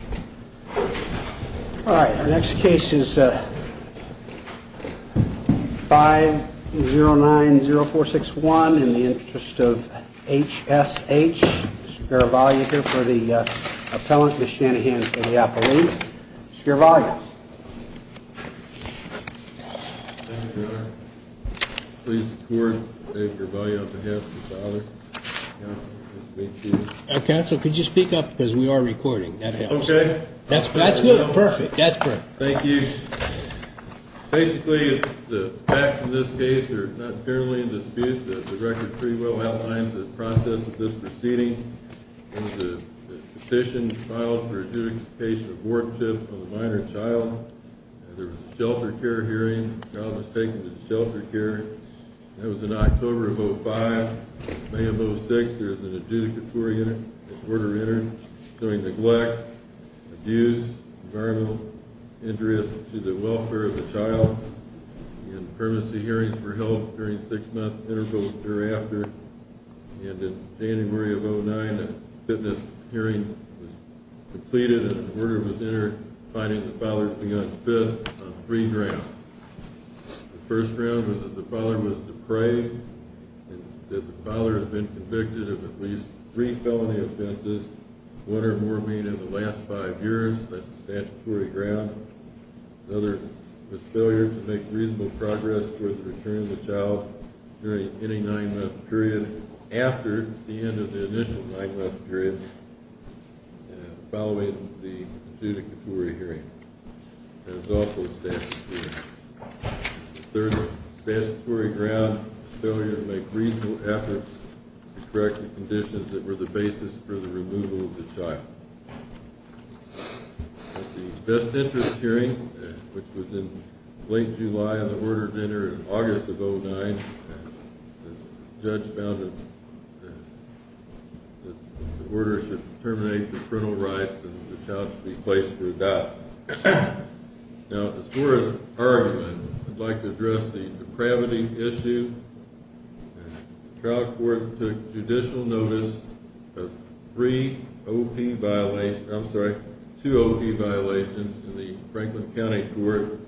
All right, our next case is 5090461 in the interest of H.S.H., Mr. Garavaglia here for the appellant, Ms. Shanahan for the appellant. Mr. Garavaglia. Mr. Garavaglia. Thank you, Your Honor. Please record, Mr. Garavaglia, on behalf of the father. Counsel, could you speak up because we are recording. That helps. Okay. That's good. Perfect. That's great. Thank you. Basically, the facts in this case are not generally in dispute. The record pretty well outlines the process of this proceeding. There was a petition filed for adjudication of work shift on a minor child. There was a shelter care hearing. The child was taken to the shelter care. That was in October of 05. In May of 06, there was an adjudicatory order entered showing neglect, abuse, environmental injuries to the welfare of the child. There were permanency hearings for help during six-month intervals thereafter. And in January of 09, a fitness hearing was completed and an order was entered finding the father to be on fifth on three grounds. The first ground was that the father was depraved and that the father had been convicted of at least three felony offenses, one or more being in the last five years. That's a statutory ground. Another was failure to make reasonable progress towards the return of the child during any nine-month period after the end of the initial nine-month period following the adjudicatory hearing. That was also a statutory ground. The third was a statutory ground, failure to make reasonable efforts to correct the conditions that were the basis for the removal of the child. At the best interest hearing, which was in late July of the order entered in August of 09, the judge found that the order should terminate the parental rights and the child should be placed for adoption. Now, as far as argument, I'd like to address the depravity issue. The trial court took judicial notice of three O.P. violations, I'm sorry, two O.P. violations in the Franklin County Court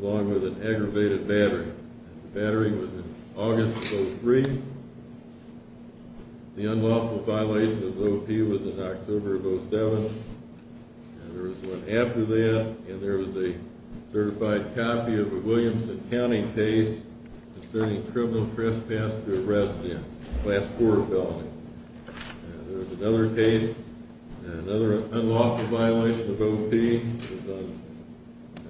along with an aggravated battery. The battery was in August of 03. The unlawful violation of O.P. was in October of 07. There was one after that and there was a certified copy of a Williamson County case concerning criminal trespass to arrest the class four felony. There was another case, another unlawful violation of O.P.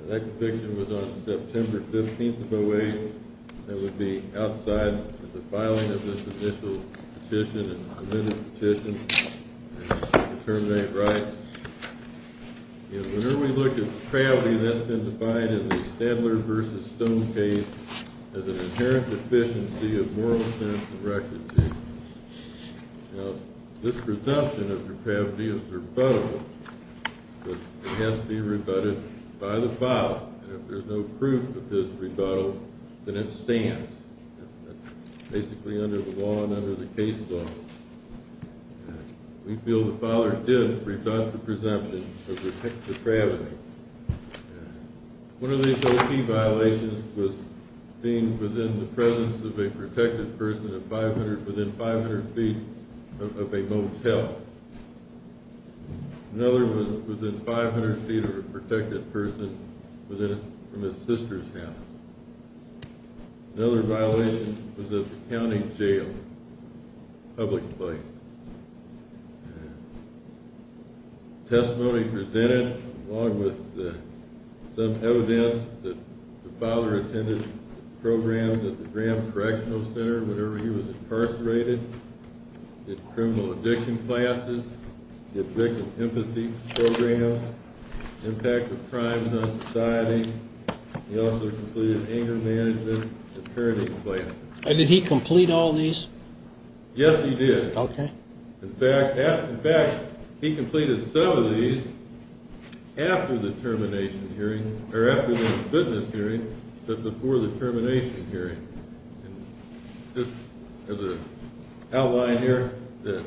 That conviction was on September 15th of 08. That would be outside of the filing of this initial petition and submitted petition to terminate rights. Whenever we look at depravity, that's been defined in the Stadler v. Stone case as an inherent deficiency of moral sense and record duty. Now, this presumption of depravity is rebuttable, but it has to be rebutted by the father. And if there's no proof of his rebuttal, then it stands. That's basically under the law and under the case law. We feel the father did rebut the presumption of depravity. One of these O.P. violations was deemed within the presence of a protected person within 500 feet of a motel. Another was within 500 feet of a protected person from his sister's house. Another violation was at the county jail, public place. Testimony presented, along with some evidence that the father attended programs at the Graham Correctional Center whenever he was incarcerated, did criminal addiction classes, did victim empathy programs, impacted crimes on society. He also completed anger management and parenting classes. Did he complete all these? Yes, he did. Okay. In fact, he completed some of these after the termination hearing, or after the unfitness hearing, but before the termination hearing. Just as an outline here, the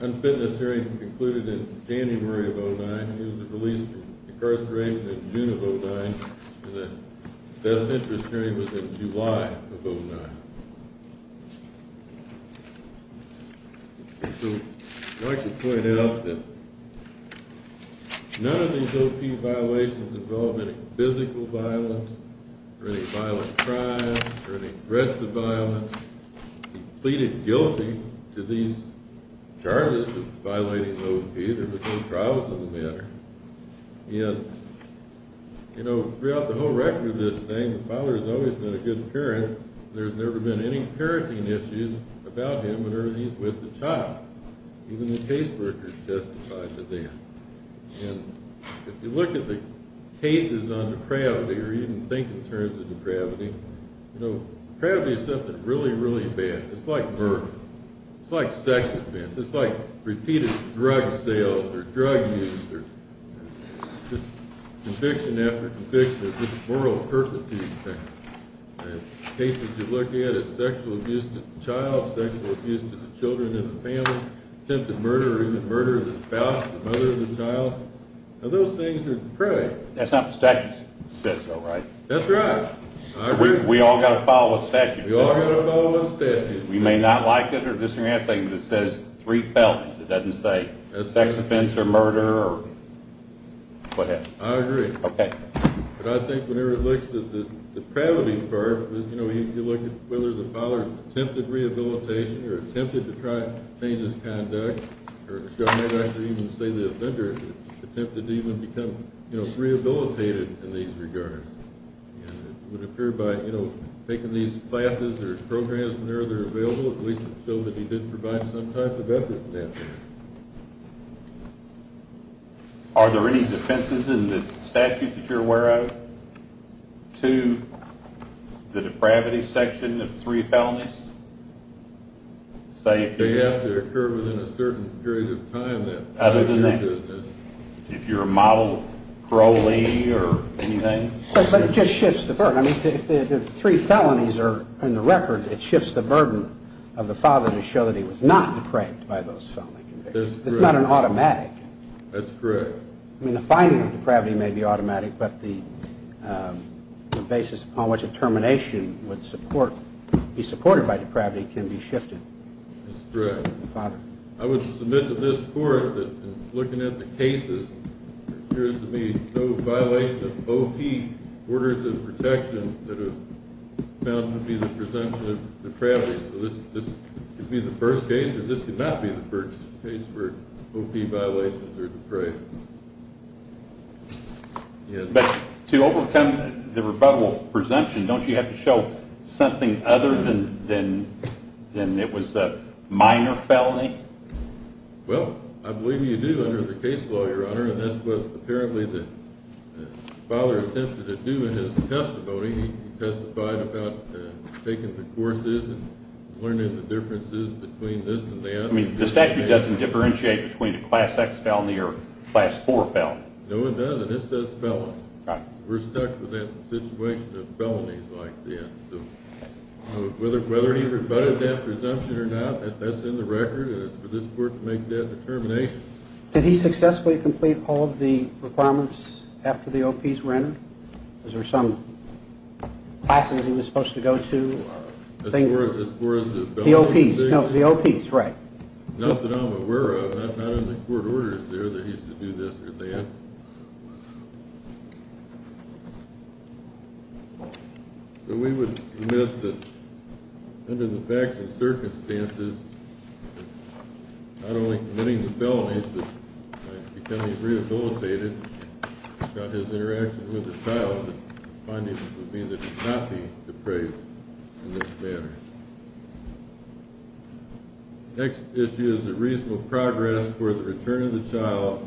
unfitness hearing concluded in January of 2009. He was released from incarceration in June of 2009, and the death interest hearing was in July of 2009. I'd like to point out that none of these O.P. violations involved any physical violence or any violent crimes or any threats of violence. He pleaded guilty to these charges of violating O.P. There were no trials of the matter. Throughout the whole record of this thing, the father has always been a good parent. There's never been any parenting issues about him whenever he's with the child. Even the case workers testified to that. If you look at the cases on depravity, or even think in terms of depravity, depravity is something really, really bad. It's like murder. It's like sex offense. It's like repeated drug sales, or drug use, or conviction after conviction, or just moral perpetuity. The cases you look at, it's sexual abuse to the child, sexual abuse to the children in the family, attempted murder, or even murder of the spouse, the mother of the child. Those things are depraved. That's not what the statute says, though, right? That's right. We all got to follow the statute. We all got to follow the statute. We may not like it or disagree on something, but it says three felons. It doesn't say sex offense or murder or what have you. I agree. Okay. But I think whenever it looks at the depravity part, you look at whether the father attempted rehabilitation or attempted to try to change his conduct, or some may actually even say the offender attempted to even become rehabilitated in these regards. It would appear by taking these classes or programs whenever they're available, at least so that he did provide some type of effort in that case. Are there any defenses in the statute that you're aware of to the depravity section of three felonies? They have to occur within a certain period of time. Other than that? If you're a model parolee or anything? But it just shifts the burden. I mean, the three felonies are in the record. It shifts the burden of the father to show that he was not depraved by those felony convictions. That's correct. It's not an automatic. That's correct. I mean, the finding of depravity may be automatic, but the basis upon which a termination would be supported by depravity can be shifted. That's correct. I would submit to this court that looking at the cases, it appears to me no violation of OP orders of protection that is found to be the presumption of depravity. So this could be the first case, or this could not be the first case where OP violations are depraved. Yes. But to overcome the rebuttable presumption, don't you have to show something other than it was a minor felony? Well, I believe you do under the case law, Your Honor, and that's what apparently the father attempted to do in his testimony. He testified about taking the courses and learning the differences between this and that. I mean, the statute doesn't differentiate between a Class X felony or a Class IV felony. No, it doesn't. It's just felon. We're stuck with that situation of felonies like this. So whether he rebutted that presumption or not, that's in the record, and it's for this court to make that determination. Did he successfully complete all of the requirements after the OPs were entered? Was there some classes he was supposed to go to? As far as the felonies? The OPs, no, the OPs, right. Nothing I'm aware of. It's not in the court orders there that he's to do this or that. So we would admit that under the facts and circumstances, not only committing the felonies but becoming rehabilitated, his interaction with the child, the findings would be that he's not to be depraved in this manner. The next issue is the reasonable progress for the return of the child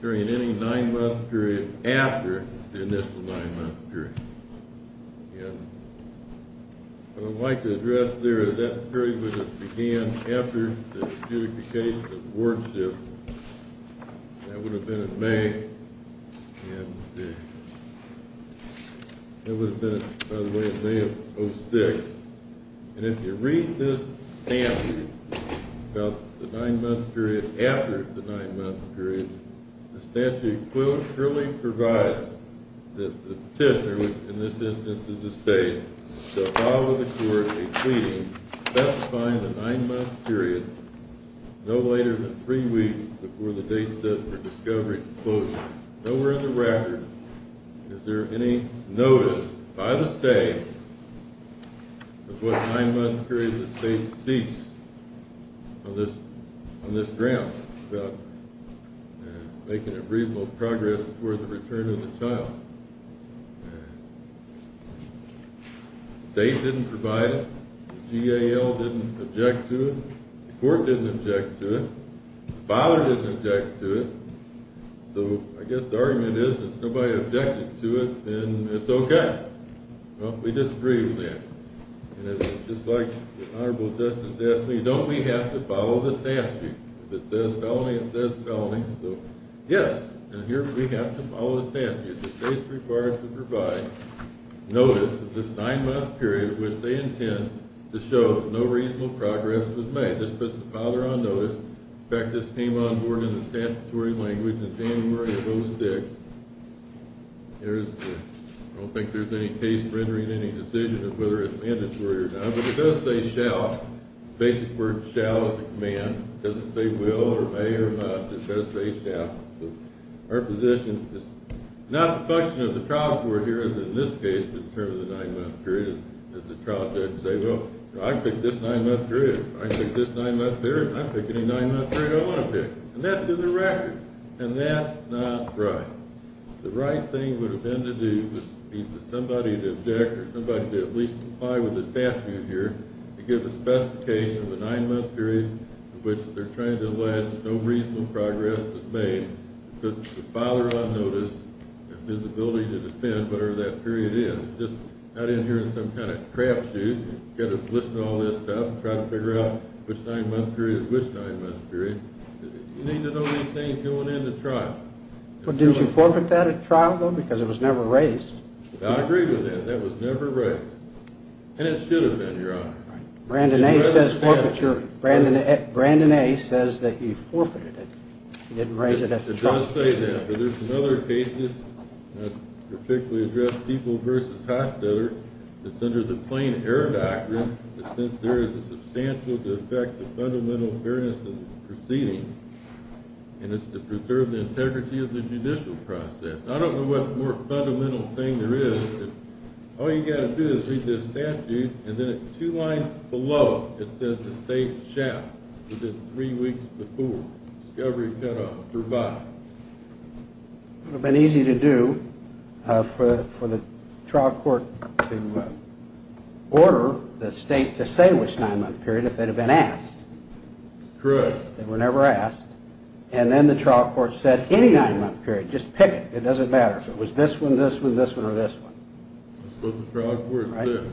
during any nine-month period after the initial nine-month period. What I'd like to address there is that period would have began after the justification of the wardship. That would have been in May, and that would have been, by the way, in May of 2006. And if you read this statute about the nine-month period after the nine-month period, the statute clearly provides that the petitioner, which in this instance is the state, shall file with the court a pleading specifying the nine-month period no later than three weeks before the date set for discovery and closure. Nowhere in the record is there any notice by the state of what nine-month period the state seeks on this ground about making a reasonable progress for the return of the child. The state didn't provide it. The GAL didn't object to it. The court didn't object to it. The father didn't object to it. So I guess the argument is if nobody objected to it, then it's okay. Well, we disagree with that. And it's just like the Honorable Justice asked me, don't we have to follow the statute? If it says felony, it says felony. So yes, we have to follow the statute. The state's required to provide notice of this nine-month period which they intend to show no reasonable progress was made. This puts the father on notice. In fact, this came on board in the statutory language in January of 2006. I don't think there's any case rendering any decision of whether it's mandatory or not. But it does say shall. The basic word shall is a command. It doesn't say will or may or must. It does say shall. So our position is not the function of the trial court here as in this case to determine the nine-month period. It's the trial judge to say, well, I pick this nine-month period. If I pick this nine-month period, I pick any nine-month period I want to pick. And that's in the record. And that's not right. The right thing would have been to do is for somebody to object or somebody to at least comply with the statute here to give a specification of a nine-month period in which they're trying to allege no reasonable progress was made to put the father on notice and visibility to defend whatever that period is. It's just not in here in some kind of crapshoot. You've got to listen to all this stuff and try to figure out which nine-month period is which nine-month period. You need to know these things going into trial. But didn't you forfeit that at trial, though, because it was never raised? I agree with that. That was never raised. And it should have been, Your Honor. Brandon A. says that you forfeited it. You didn't raise it at the trial. It does say that, but there's some other cases that particularly address people versus hostellers. I don't know what more fundamental thing there is. All you've got to do is read the statute, and then at two lines below it says the state shall, within three weeks before, discovery cutoff, provide. It would have been easy to do for the trial court to order the state to say which nine-month period if they'd have been asked. Correct. They were never asked. And then the trial court said any nine-month period, just pick it. It doesn't matter if it was this one, this one, this one, or this one. That's what the trial court said.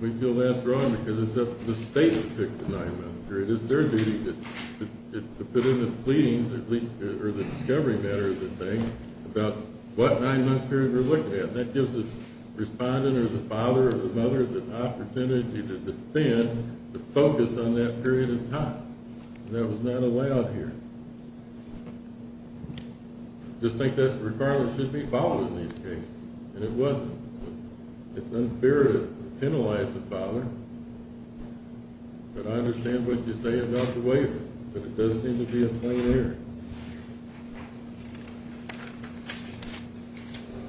We feel that's wrong because it's up to the state to pick the nine-month period. It's their duty to put in the pleadings, or at least the discovery matter of the thing, about what nine-month period we're looking at. That gives the respondent or the father or the mother the opportunity to defend, to focus on that period of time. And that was not allowed here. I just think that's regardless. It should be followed in these cases, and it wasn't. It's unfair to penalize the father, but I understand what you're saying about the waiver, but it does seem to be a plain error.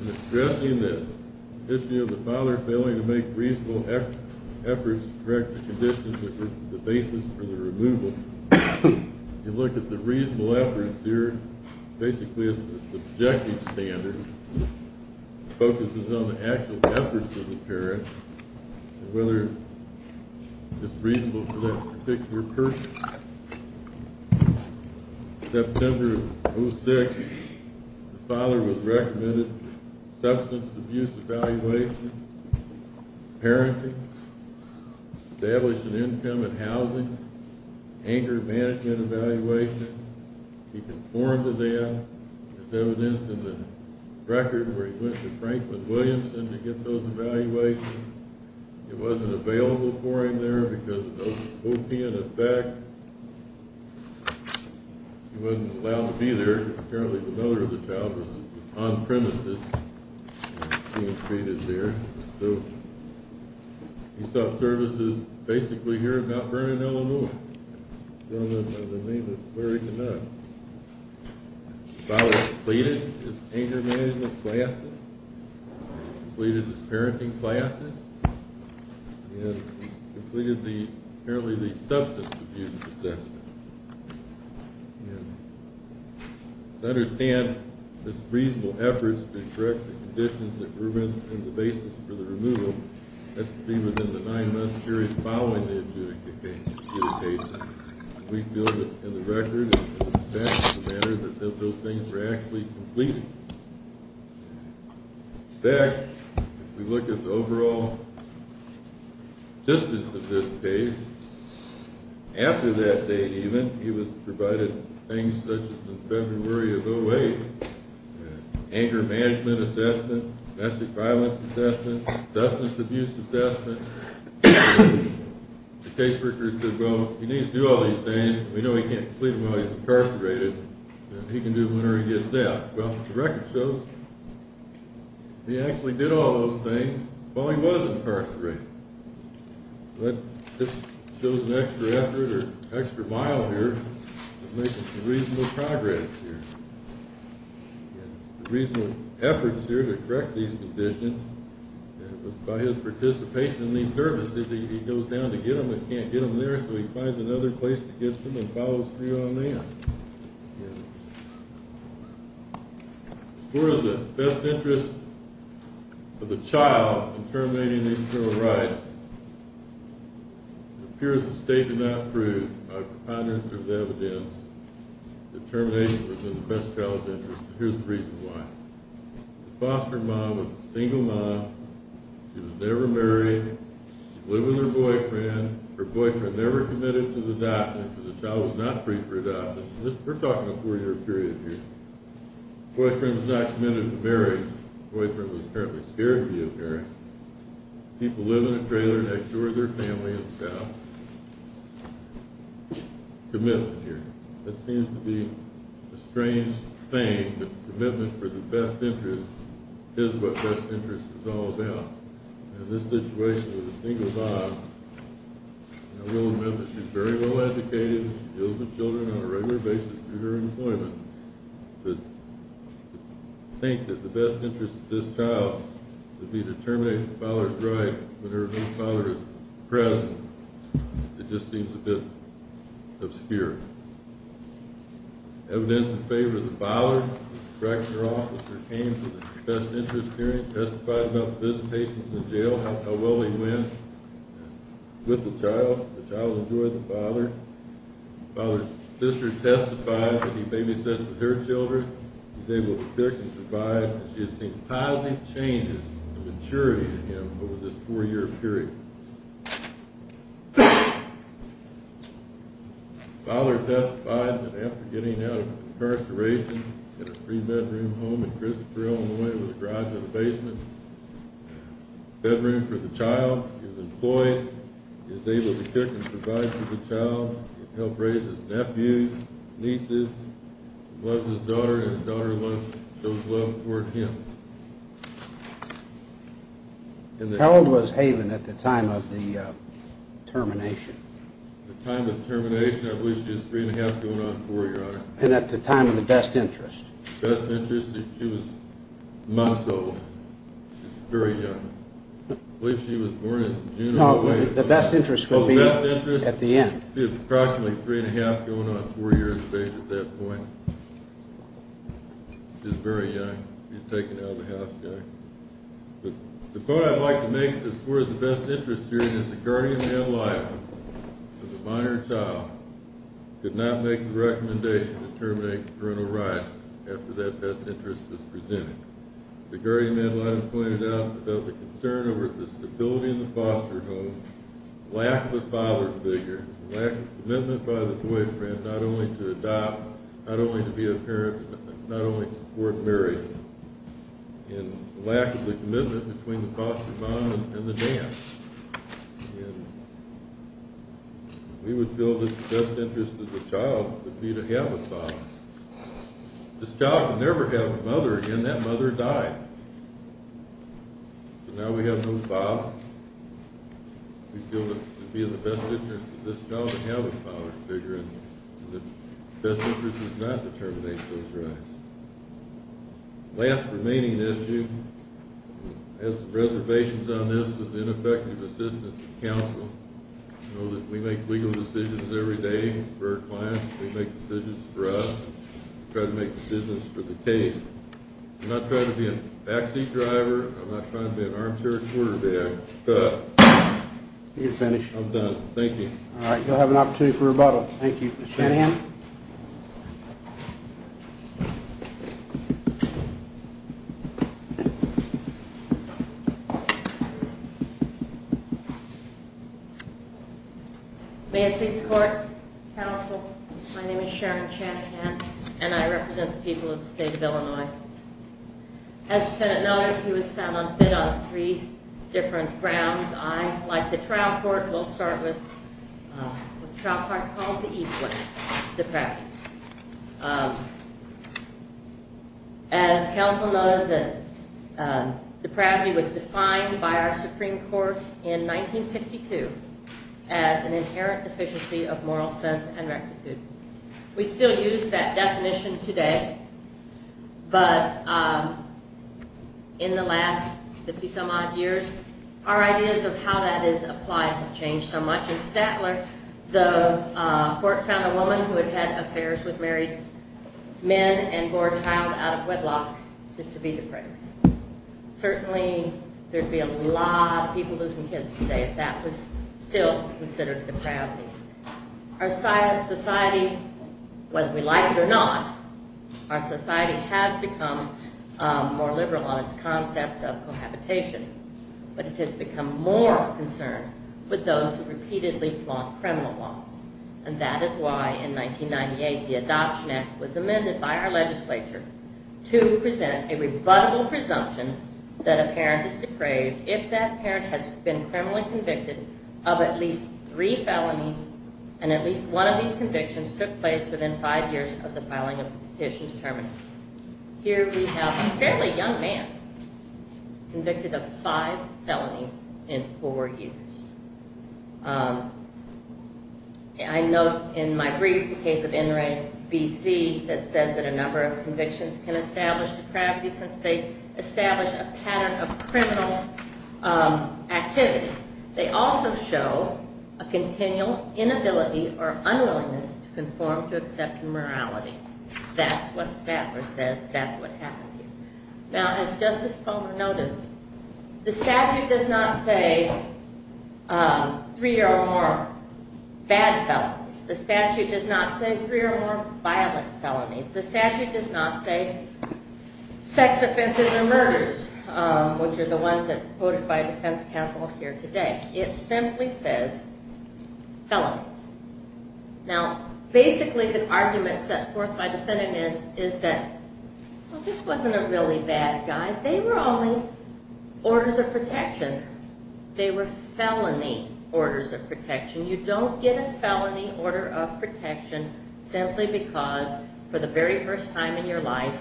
In addressing this issue of the father failing to make reasonable efforts to correct the conditions that were the basis for the removal, you look at the reasonable efforts here basically as the subjective standard. It focuses on the actual efforts of the parent and whether it's reasonable for that particular person. September of 2006, the father was recommended substance abuse evaluation, parenting, establishing income and housing, anger management evaluation. He conformed to them. There's evidence in the record where he went to Franklin-Williamson to get those evaluations. It wasn't available for him there because of the Hopian effect. He wasn't allowed to be there. Apparently, the mother of the child was on-premises being treated there. He sought services basically here in Mount Vernon, Illinois. The father completed his anger management classes, completed his parenting classes, and completed apparently the substance abuse assessment. To understand his reasonable efforts to correct the conditions that were the basis for the removal, that's to be within the nine-month period following the adjudication. We feel that in the record, it's a fact of the matter that those things were actually completed. In fact, if we look at the overall existence of this case, after that date even, he was provided things such as in February of 2008, anger management assessment, domestic violence assessment, substance abuse assessment. The caseworker said, well, he needs to do all these things. We know he can't sleep while he's incarcerated. He can do it whenever he gets out. Well, the record shows he actually did all those things while he was incarcerated. That just shows an extra effort or extra mile here to make a reasonable progress here. The reasonable efforts here to correct these conditions was by his participation in these services. He goes down to get them and can't get them there, so he finds another place to get them and follows through on that. As far as the best interest of the child in terminating these criminal rights, it appears the state did not prove by a preponderance of evidence that termination was in the best child's interest, and here's the reason why. The foster mom was a single mom. She was never married. She lived with her boyfriend. Her boyfriend never committed to the adoption because the child was not free for adoption. We're talking a four-year period here. Boyfriend's not committed to marriage. Boyfriend was apparently scared to be a parent. People live in a trailer next door to their family and staff. Commitment here. This seems to be a strange thing, but commitment for the best interest is what best interest is all about. In this situation, with a single mom, I will admit that she's very well educated. She deals with children on a regular basis through her employment. To think that the best interest of this child would be to terminate the father's right whenever the father is present, it just seems a bit obscure. Evidence in favor of the father, the director officer came to the best interest hearing, testified about the visitation to the jail, how well they went with the child. The child enjoyed the father. The father's sister testified that he babysat for her children. He was able to pick and provide. She has seen positive changes in maturity in him over this four-year period. The father testified that after getting out of incarceration in a three-bedroom home in Christopher, Illinois, with a garage in the basement, a bedroom for the child. He was employed. He was able to pick and provide for the child. He helped raise his nephews, nieces. He loves his daughter, and his daughter shows love toward him. Harold was haven at the time of the termination. At the time of termination, I believe she was three-and-a-half going on four, Your Honor. And at the time of the best interest. Best interest? She was months old. She was very young. I believe she was born in June or May. The best interest will be at the end. She was approximately three-and-a-half going on a four-year stage at that point. She was very young. She was taken out of the house. The point I'd like to make as far as the best interest hearing is the guardian male life of the minor child could not make the recommendation to terminate parental rights after that best interest was presented. The guardian male life pointed out about the concern over the stability in the foster home, lack of a father figure, lack of commitment by the boyfriend not only to adopt, not only to be a parent, not only to support marriage, and lack of the commitment between the foster mom and the dad. And we would feel that the best interest of the child would be to have a father. This child would never have a mother again. That mother died. So now we have no father. We feel that it would be in the best interest of this child to have a father figure, and the best interest is not to terminate those rights. The last remaining issue, I have some reservations on this, is ineffective assistance of counsel. I know that we make legal decisions every day for our clients. We make decisions for us. We try to make decisions for the case. I'm not trying to be a backseat driver. I'm not trying to be an armchair quarterback. You're finished. I'm done. Thank you. All right. You'll have an opportunity for rebuttal. Thank you, Mr. Hanahan. Thank you. May it please the court, counsel, my name is Sharon Chanhan, and I represent the people of the state of Illinois. As you know, he was found unfit on three different grounds. I, like the trial court, will start with what the trial court called the Eastwood Defect. As counsel noted, depravity was defined by our Supreme Court in 1952 as an inherent deficiency of moral sense and rectitude. We still use that definition today, but in the last 50-some-odd years, our ideas of how that is applied have changed so much. In Statler, the court found a woman who had had affairs with married men and bore a child out of wedlock to be depraved. Certainly, there'd be a lot of people losing kids today if that was still considered depravity. Our society, whether we like it or not, our society has become more liberal on its concepts of cohabitation, but it has become more concerned with those who repeatedly flaunt criminal laws. And that is why, in 1998, the Adoption Act was amended by our legislature to present a rebuttable presumption that a parent is depraved if that parent has been criminally convicted of at least three felonies, and at least one of these convictions took place within five years of the filing of the petition to terminate. Here we have a fairly young man convicted of five felonies in four years. I note in my brief the case of Inouye, B.C., that says that a number of convictions can establish depravity since they establish a pattern of criminal activity. They also show a continual inability or unwillingness to conform to accepted morality. That's what Statler says. That's what happened here. Now, as Justice Sponger noted, the statute does not say three or more bad felonies. The statute does not say three or more violent felonies. The statute does not say sex offenses or murders, which are the ones that are quoted by defense counsel here today. It simply says felonies. Now, basically, the argument set forth by the defendant is that, well, this wasn't a really bad guy. They were only orders of protection. They were felony orders of protection. You don't get a felony order of protection simply because, for the very first time in your life,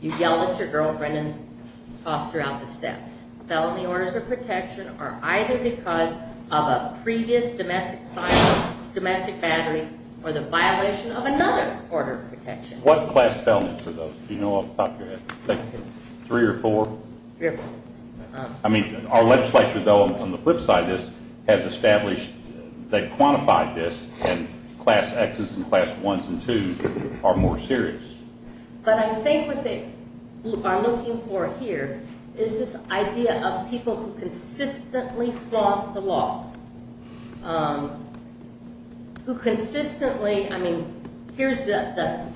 you yelled at your girlfriend and tossed her out the steps. Felony orders of protection are either because of a previous domestic violence, domestic battery, or the violation of another order of protection. What class felonies are those? Do you know off the top of your head? Three or four? I mean, our legislature, though, on the flip side of this, has established that quantified this and class X's and class 1's and 2's are more serious. But I think what they are looking for here is this idea of people who consistently flaunt the law. Who consistently, I mean, here's the,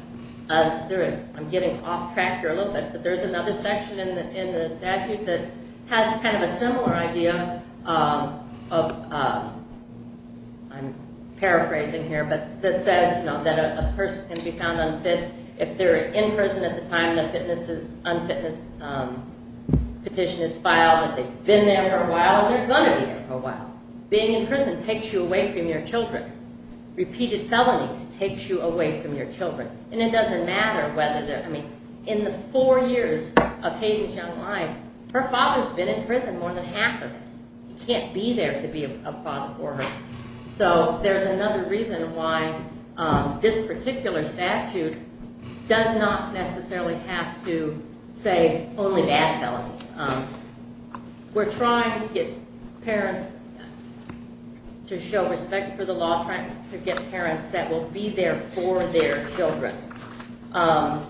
I'm getting off track here a little bit, but there's another section of the statute that has kind of a similar idea of, I'm paraphrasing here, but that says that a person can be found unfit if they're in prison at the time the unfitness petition is filed. If they've been there for a while, they're going to be there for a while. Being in prison takes you away from your children. Repeated felonies takes you away from your children. And it doesn't matter whether, I mean, in the four years her father's been in prison, more than half of it. You can't be there to be a father for her. So there's another reason why this particular statute does not necessarily have to say only bad felonies. We're trying to get parents to show respect for the law, trying to get parents that will be there for their children. And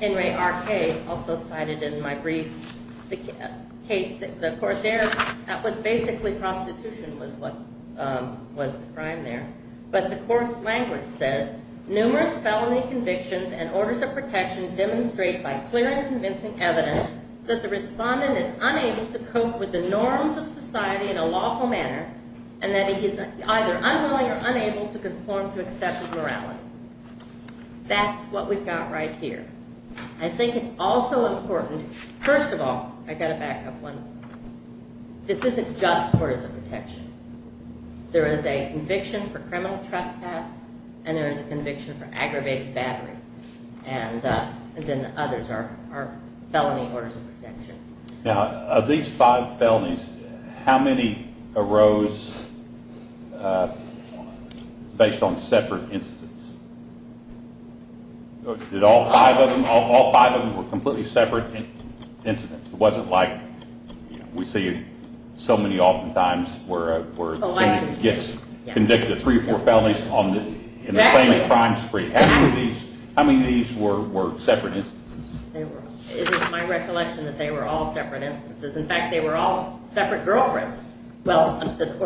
Henry R.K. also cited in my brief case, the court there, that was basically prostitution was the crime there. But the court's language says, numerous felony convictions and orders of protection demonstrate by clear and convincing evidence that the respondent is unable to cope with the norms of society in a lawful manner and that he is either unwilling or unable to conform to accepted morality. That's what we've got right here. I think it's also important first of all, I've got to back up one point. This isn't just orders of protection. There is a conviction for criminal trespass and there is a conviction for aggravated battery. And then others are felony orders of protection. Now, of these five felonies, how many arose based on separate incidents? Did all five of them, all five of them were completely separate incidents? It wasn't like we see so many often times where a person gets convicted of three or four felonies in the same crime spree. How many of these were separate instances? It is my recollection that they were all separate instances. In fact, they were all separate girlfriends. The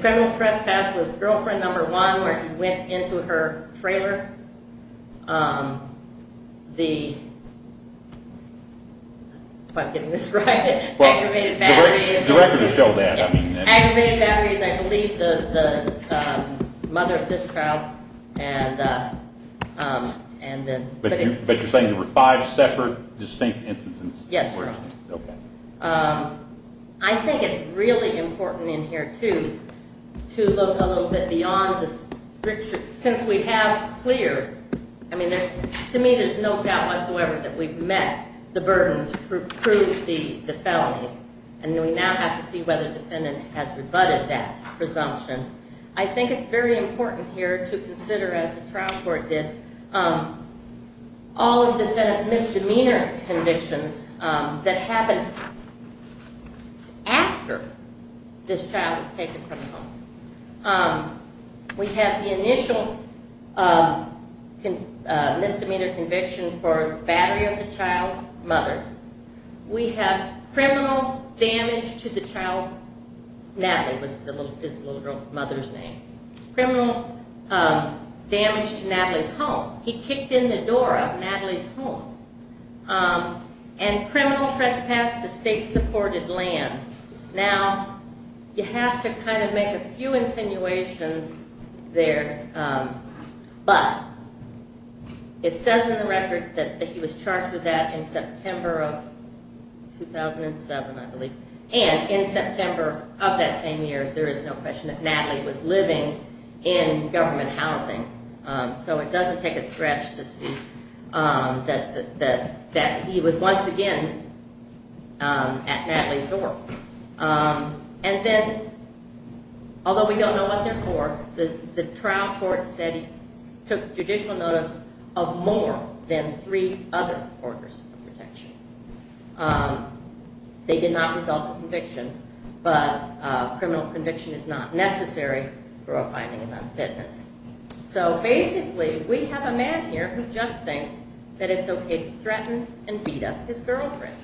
criminal trespass was girlfriend number one and the if I'm getting this right, aggravated battery. The record will show that. Aggravated battery is I believe the mother of this child. But you're saying there were five separate distinct instances? Yes, sir. I think it's really important in here too to look a little bit beyond the stricture since we have clear to me there's no doubt whatsoever that we've met the burden to prove the felonies and we now have to see whether the defendant has rebutted that presumption. I think it's very important here to consider as the trial court did all of the defendant's misdemeanor convictions that happened after this child was taken from home. We have the initial misdemeanor conviction for battery of the child's mother. We have criminal damage to the child's Natalie was his little girl's mother's name. Criminal damage to Natalie's home. He kicked in the door of Natalie's home and criminal trespass to state-supported land. Now, you have to kind of make a few insinuations there but it says in the record that he was charged with that in September of 2007 I believe and in September of that same year there is no question that Natalie was living in government housing so it doesn't take a stretch to see that he was once again at Natalie's door and then although we don't know what they're for the trial court said he took judicial notice of more than three other orders of protection. They did not result in convictions but criminal conviction is not necessary for a finding of unfitness. So basically we have a man here who just thinks that it's okay to threaten and beat up his girlfriend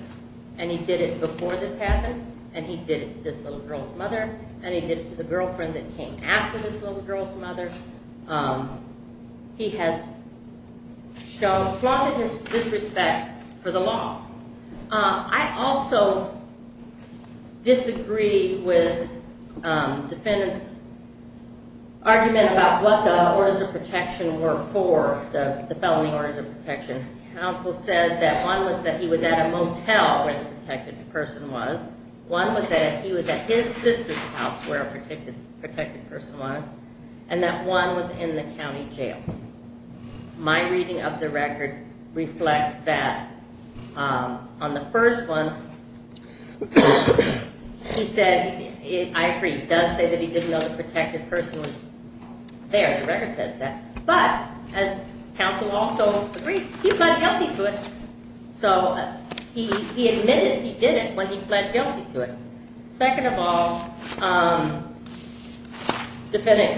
and he did it before this happened and he did it to this little girl's mother and he did it to the girlfriend that came after this little girl's mother. He has flaunted his disrespect for the law. I also disagree with defendants argument about what the orders of protection were for the felony orders of protection. Counsel said that one was that he was at his sister's house where a protected person was and that one was in the county jail. My reading of the record reflects that on the first one he says I agree he does say that he didn't know the protected person was there. The record says that but as counsel also agrees he pled guilty to it so he admitted he did it when he pled guilty to it. Second of all defendant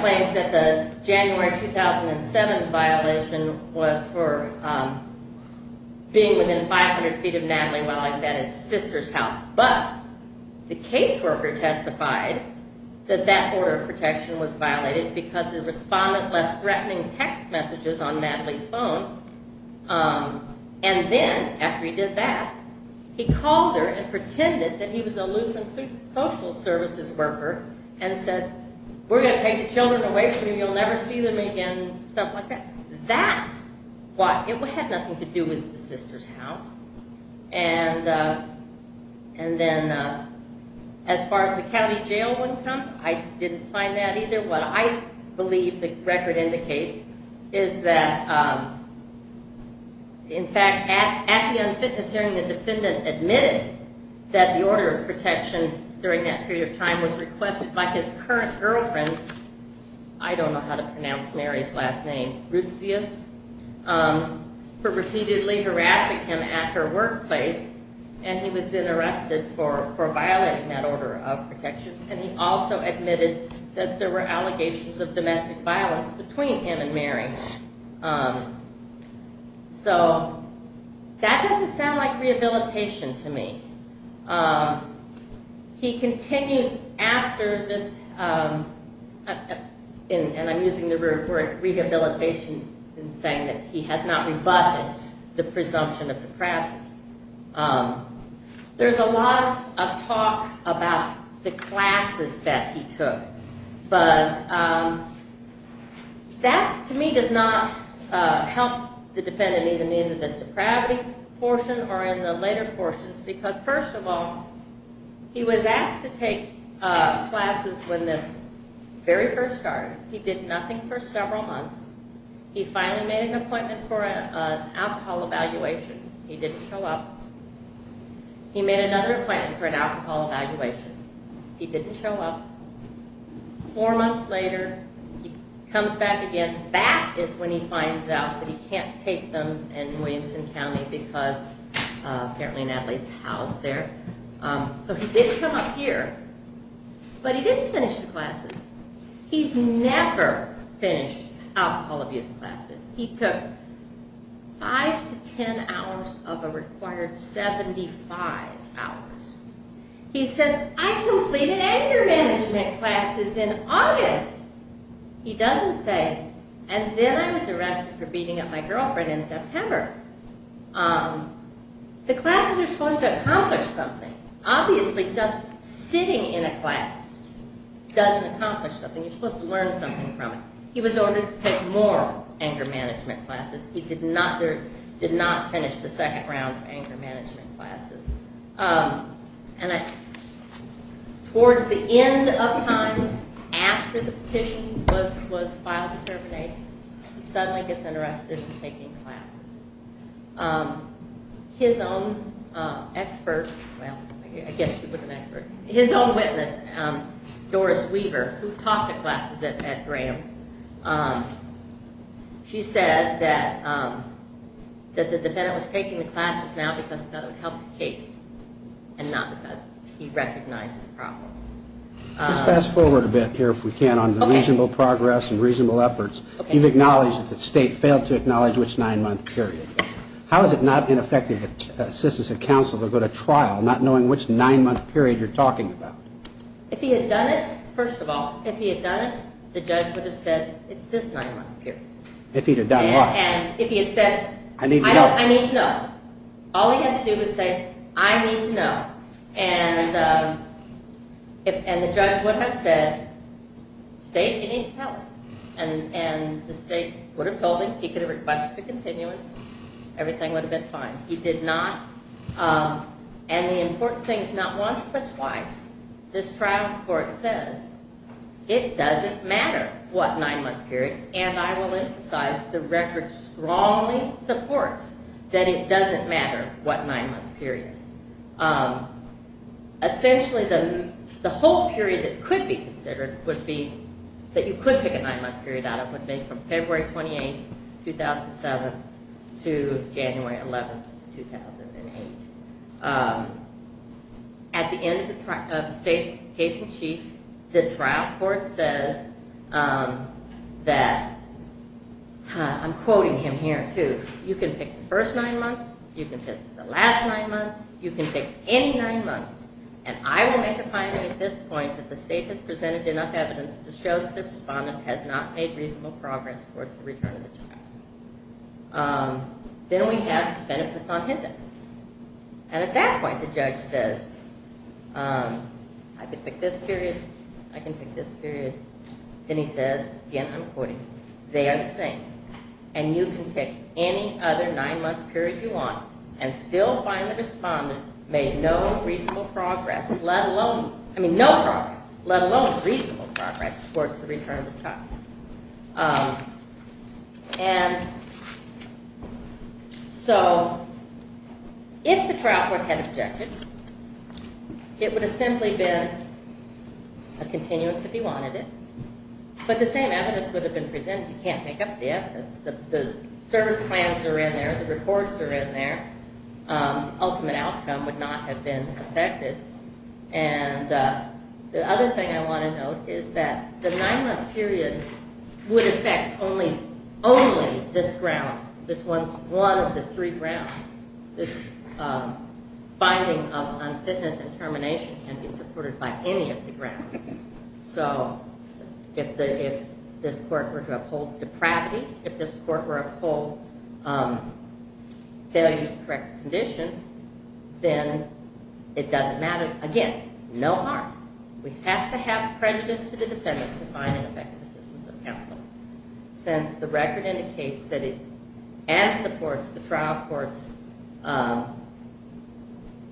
claims that the January 2007 violation was for being within 500 feet of Natalie while he was at his sister's house but the caseworker testified that that order of protection was violated because the respondent left threatening text messages on Natalie's phone and then after he did that he called her and pretended that he was a Lutheran social services worker and said we're going to take the children away from you you'll never see them again stuff like that. That had nothing to do with the sister's house and then as far as the county jail I didn't find that either. What I believe the record indicates is that in fact at the unfitness hearing the defendant admitted that the order of protection during that period of time was requested by his current girlfriend I don't know how to pronounce Mary's last name for repeatedly harassing him at her workplace and he was then arrested for violating that order of protection and he also admitted that there were allegations of domestic violence between him and Mary so that doesn't sound like rehabilitation to me. He continues after this and I'm using the word rehabilitation in saying that he has not rebutted the presumption of depravity. There's a lot of talk about the classes that he took that to me does not help the defendant in either this depravity portion or in the later portions because first of all he was asked to take classes when this very first started. He did nothing for several months. He finally made an appointment for an alcohol evaluation. He didn't show up. He made another appointment for an alcohol evaluation. He didn't show up. Four months later he comes back again. That is when he finds out that he can't take them in Williamson County because apparently Natalie's housed there. So he did come up here but he didn't finish the classes. He's never finished alcohol abuse classes. He took five to ten hours of a required 75 hours. He says, I completed anger management classes in August. He doesn't say, and then I was arrested for beating up my girlfriend in September. The classes are supposed to accomplish something. Obviously just sitting in a class doesn't accomplish something. You're supposed to learn something from it. He was ordered to take more anger management classes. He did not finish the second round of anger management classes. Towards the end of time after the petition was filed to terminate, he suddenly gets arrested for taking classes. His own expert, well I guess he was an expert, his own witness, Doris Weaver, who taught the classes at Graham, she said that the defendant was taking the classes now because that would help the case and not because he recognized his problems. Let's fast forward a bit here if we can on the reasonable progress and reasonable efforts. You've acknowledged that the state failed to acknowledge which nine-month period. How is it not ineffective to assist as a counselor to go to trial not knowing which nine-month period you're talking about? If he had done it, first of all, if he had done it, the judge would have said it's this nine-month period. If he had done what? If he had said I need to know. I need to know. All he had to do was say I need to know. And the judge would have said state, you need to tell him. And the state would have told him he could have requested a continuance, everything would have been fine. He did not. And the important thing is not once but twice, this trial court says it doesn't matter what nine-month period and I will emphasize the record strongly supports that it doesn't matter what nine-month period. Essentially, the whole period that could be considered would be that you could pick a nine-month period out of would be from February 28, 2007 to January 11, 2008. At the end of the state's case in chief, the trial court says that I'm quoting him here too, you can pick the first nine months, you can pick the last nine months, you can pick any nine months and I will make a finding at this point that the state has presented enough evidence to show that the respondent has not made reasonable progress towards the return of the child. Then we have benefits on his evidence. And at that point, the judge says I can pick this period, I can pick this period, then he says, again I'm quoting, they are the same and you can pick any other nine-month period you want and still find the respondent made no reasonable progress let alone, I mean no progress, let alone reasonable progress towards the return of the child. And so if the trial court had objected, it would have simply been a continuance if he wanted it. But the same evidence would have been presented. You can't make up the evidence. The service plans are in there, the reports are in there. Ultimate outcome would not have been affected. And the other thing I want to note is that the nine-month period would affect only only this ground, this one, one of the three grounds. This finding of unfitness and termination can be supported by any of the grounds. So if the, if this court were to uphold depravity, if this court were to uphold failure to correct conditions, then it doesn't matter. Again, no harm. We have to have prejudice to the defendant to find an effective assistance of counsel. Since the record indicates that it and supports the trial court's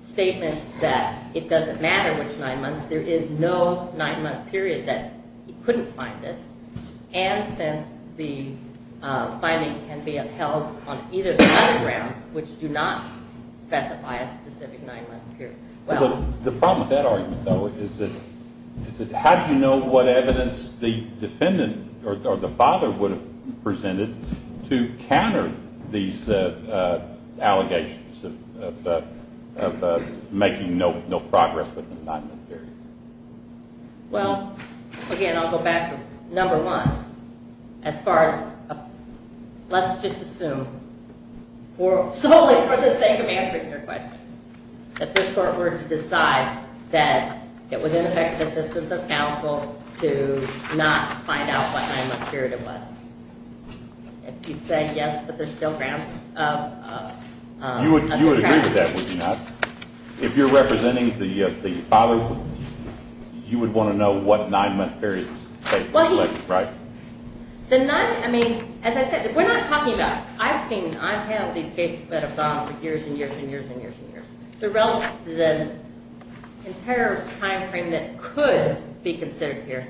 statements that it doesn't matter which nine months, there is no nine-month period that he couldn't find this. And since the finding can be upheld on either of the other grounds which do not specify a specific nine-month period. Well, the problem with that argument, though, is that is that how do you know what evidence the defendant or the father would have presented to counter these allegations of of making no progress with the nine-month period? Well, again, I'll go back to number one. As far as let's just assume solely for the sake of answering your question that this court were to decide that it was ineffective assistance of counsel to not find out what nine-month period it was. If you say yes, but there's still grounds of You would agree with that, would you not? If you're representing the father, you would want to know what nine-month period it was, right? The nine, I mean, as I said, we're not talking about I've seen, I've handled these cases that have gone on for years and years and years and years and years. The entire time frame that could be considered here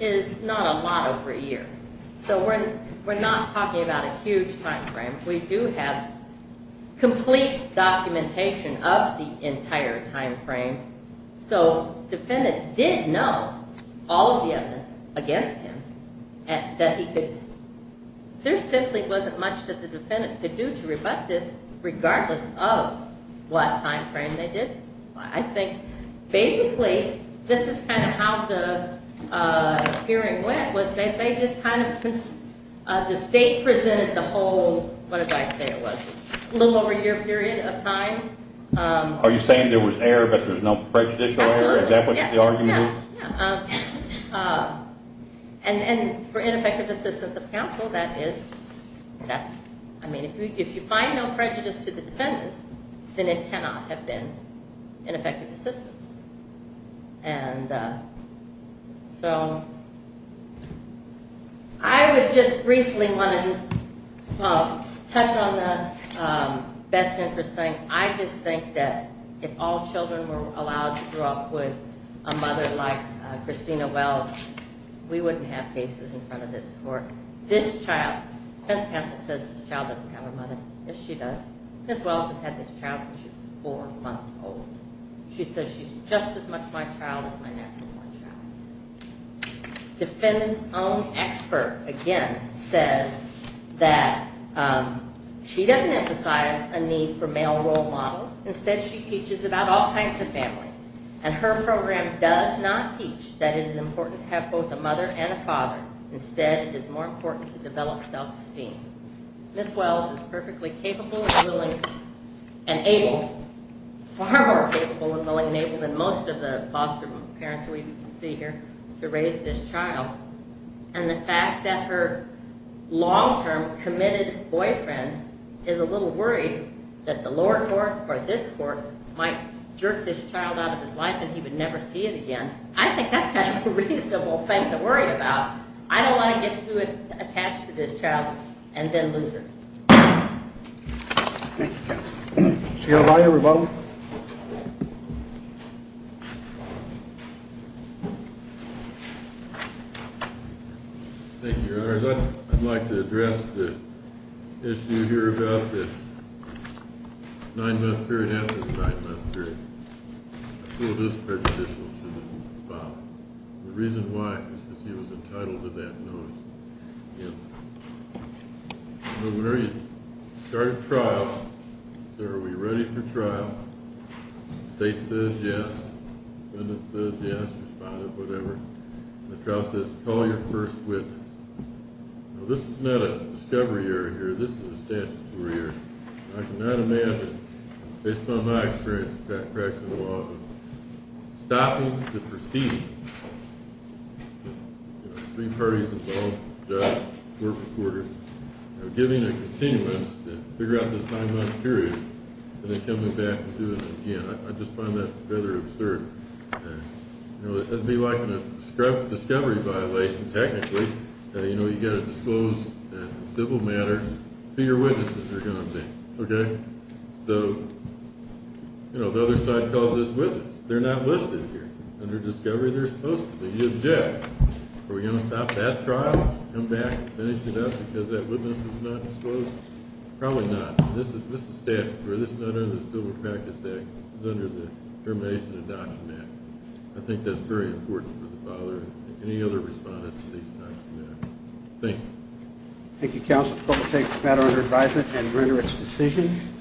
is not a lot to know for a year. So we're not talking about a huge time frame. We do have complete documentation of the entire time frame. So the defendant did know all of the evidence against him that he could there simply wasn't much that the defendant could do to rebut this regardless of what time frame they did. I think basically this is kind of how the hearing went was that they just kind of the state presented the whole, what did I say it was, little over a year period of time. Are you saying there was error but there was no prejudicial error? Absolutely. Is that what the argument is? Yeah. And for ineffective assistance of counsel that is, I mean, if you find no prejudice to the defendant then it cannot have been ineffective assistance. And so I would just briefly want to touch on the best interest thing. I just think that if all children were allowed to grow up with a mother like this, or this child, defense counsel says this child doesn't have a mother. Yes she does. Ms. Wallace has had this child since she was four months old. She says she's just as much my child as my natural born child. Defendant's own expert again says that she doesn't emphasize a need for male role models. Instead she teaches about all kinds of families. And her program does not teach that it is important to have both a mother and a father. Instead it is more important to develop self-esteem. Ms. Wells is perfectly capable and willing and able, far more capable and willing and able than most of the foster parents we see here to raise this child. I think that's a reasonable thing to worry about. I don't want to get too attached to this child and then lose her. Thank you, counsel. Chair Biden, rebuttal. Thank you, Your Honors. I'd like to address the issue here about the nine month period and the reason why he was entitled to that notice. When you start a trial, are we ready for trial? The state says yes. The defendant says yes. The trial says call your first witness. This is not a discovery area. This is a statutory area. I cannot imagine based on my experience stopping to proceed with three parties involved, giving a continuance to figure out this nine month period and then coming back and doing it again. I just find that rather absurd. It would be like a discovery violation technically. You've got to stop that trial and come back and finish it up because that witness is not disclosed. Probably not. This is statutory. This is under the civil practice act. This is under the termination of the document. I think that's very important for the father and any other respondents. Thank you. Thank you, counsel. The clerk will take the matter under advisement and render its decision.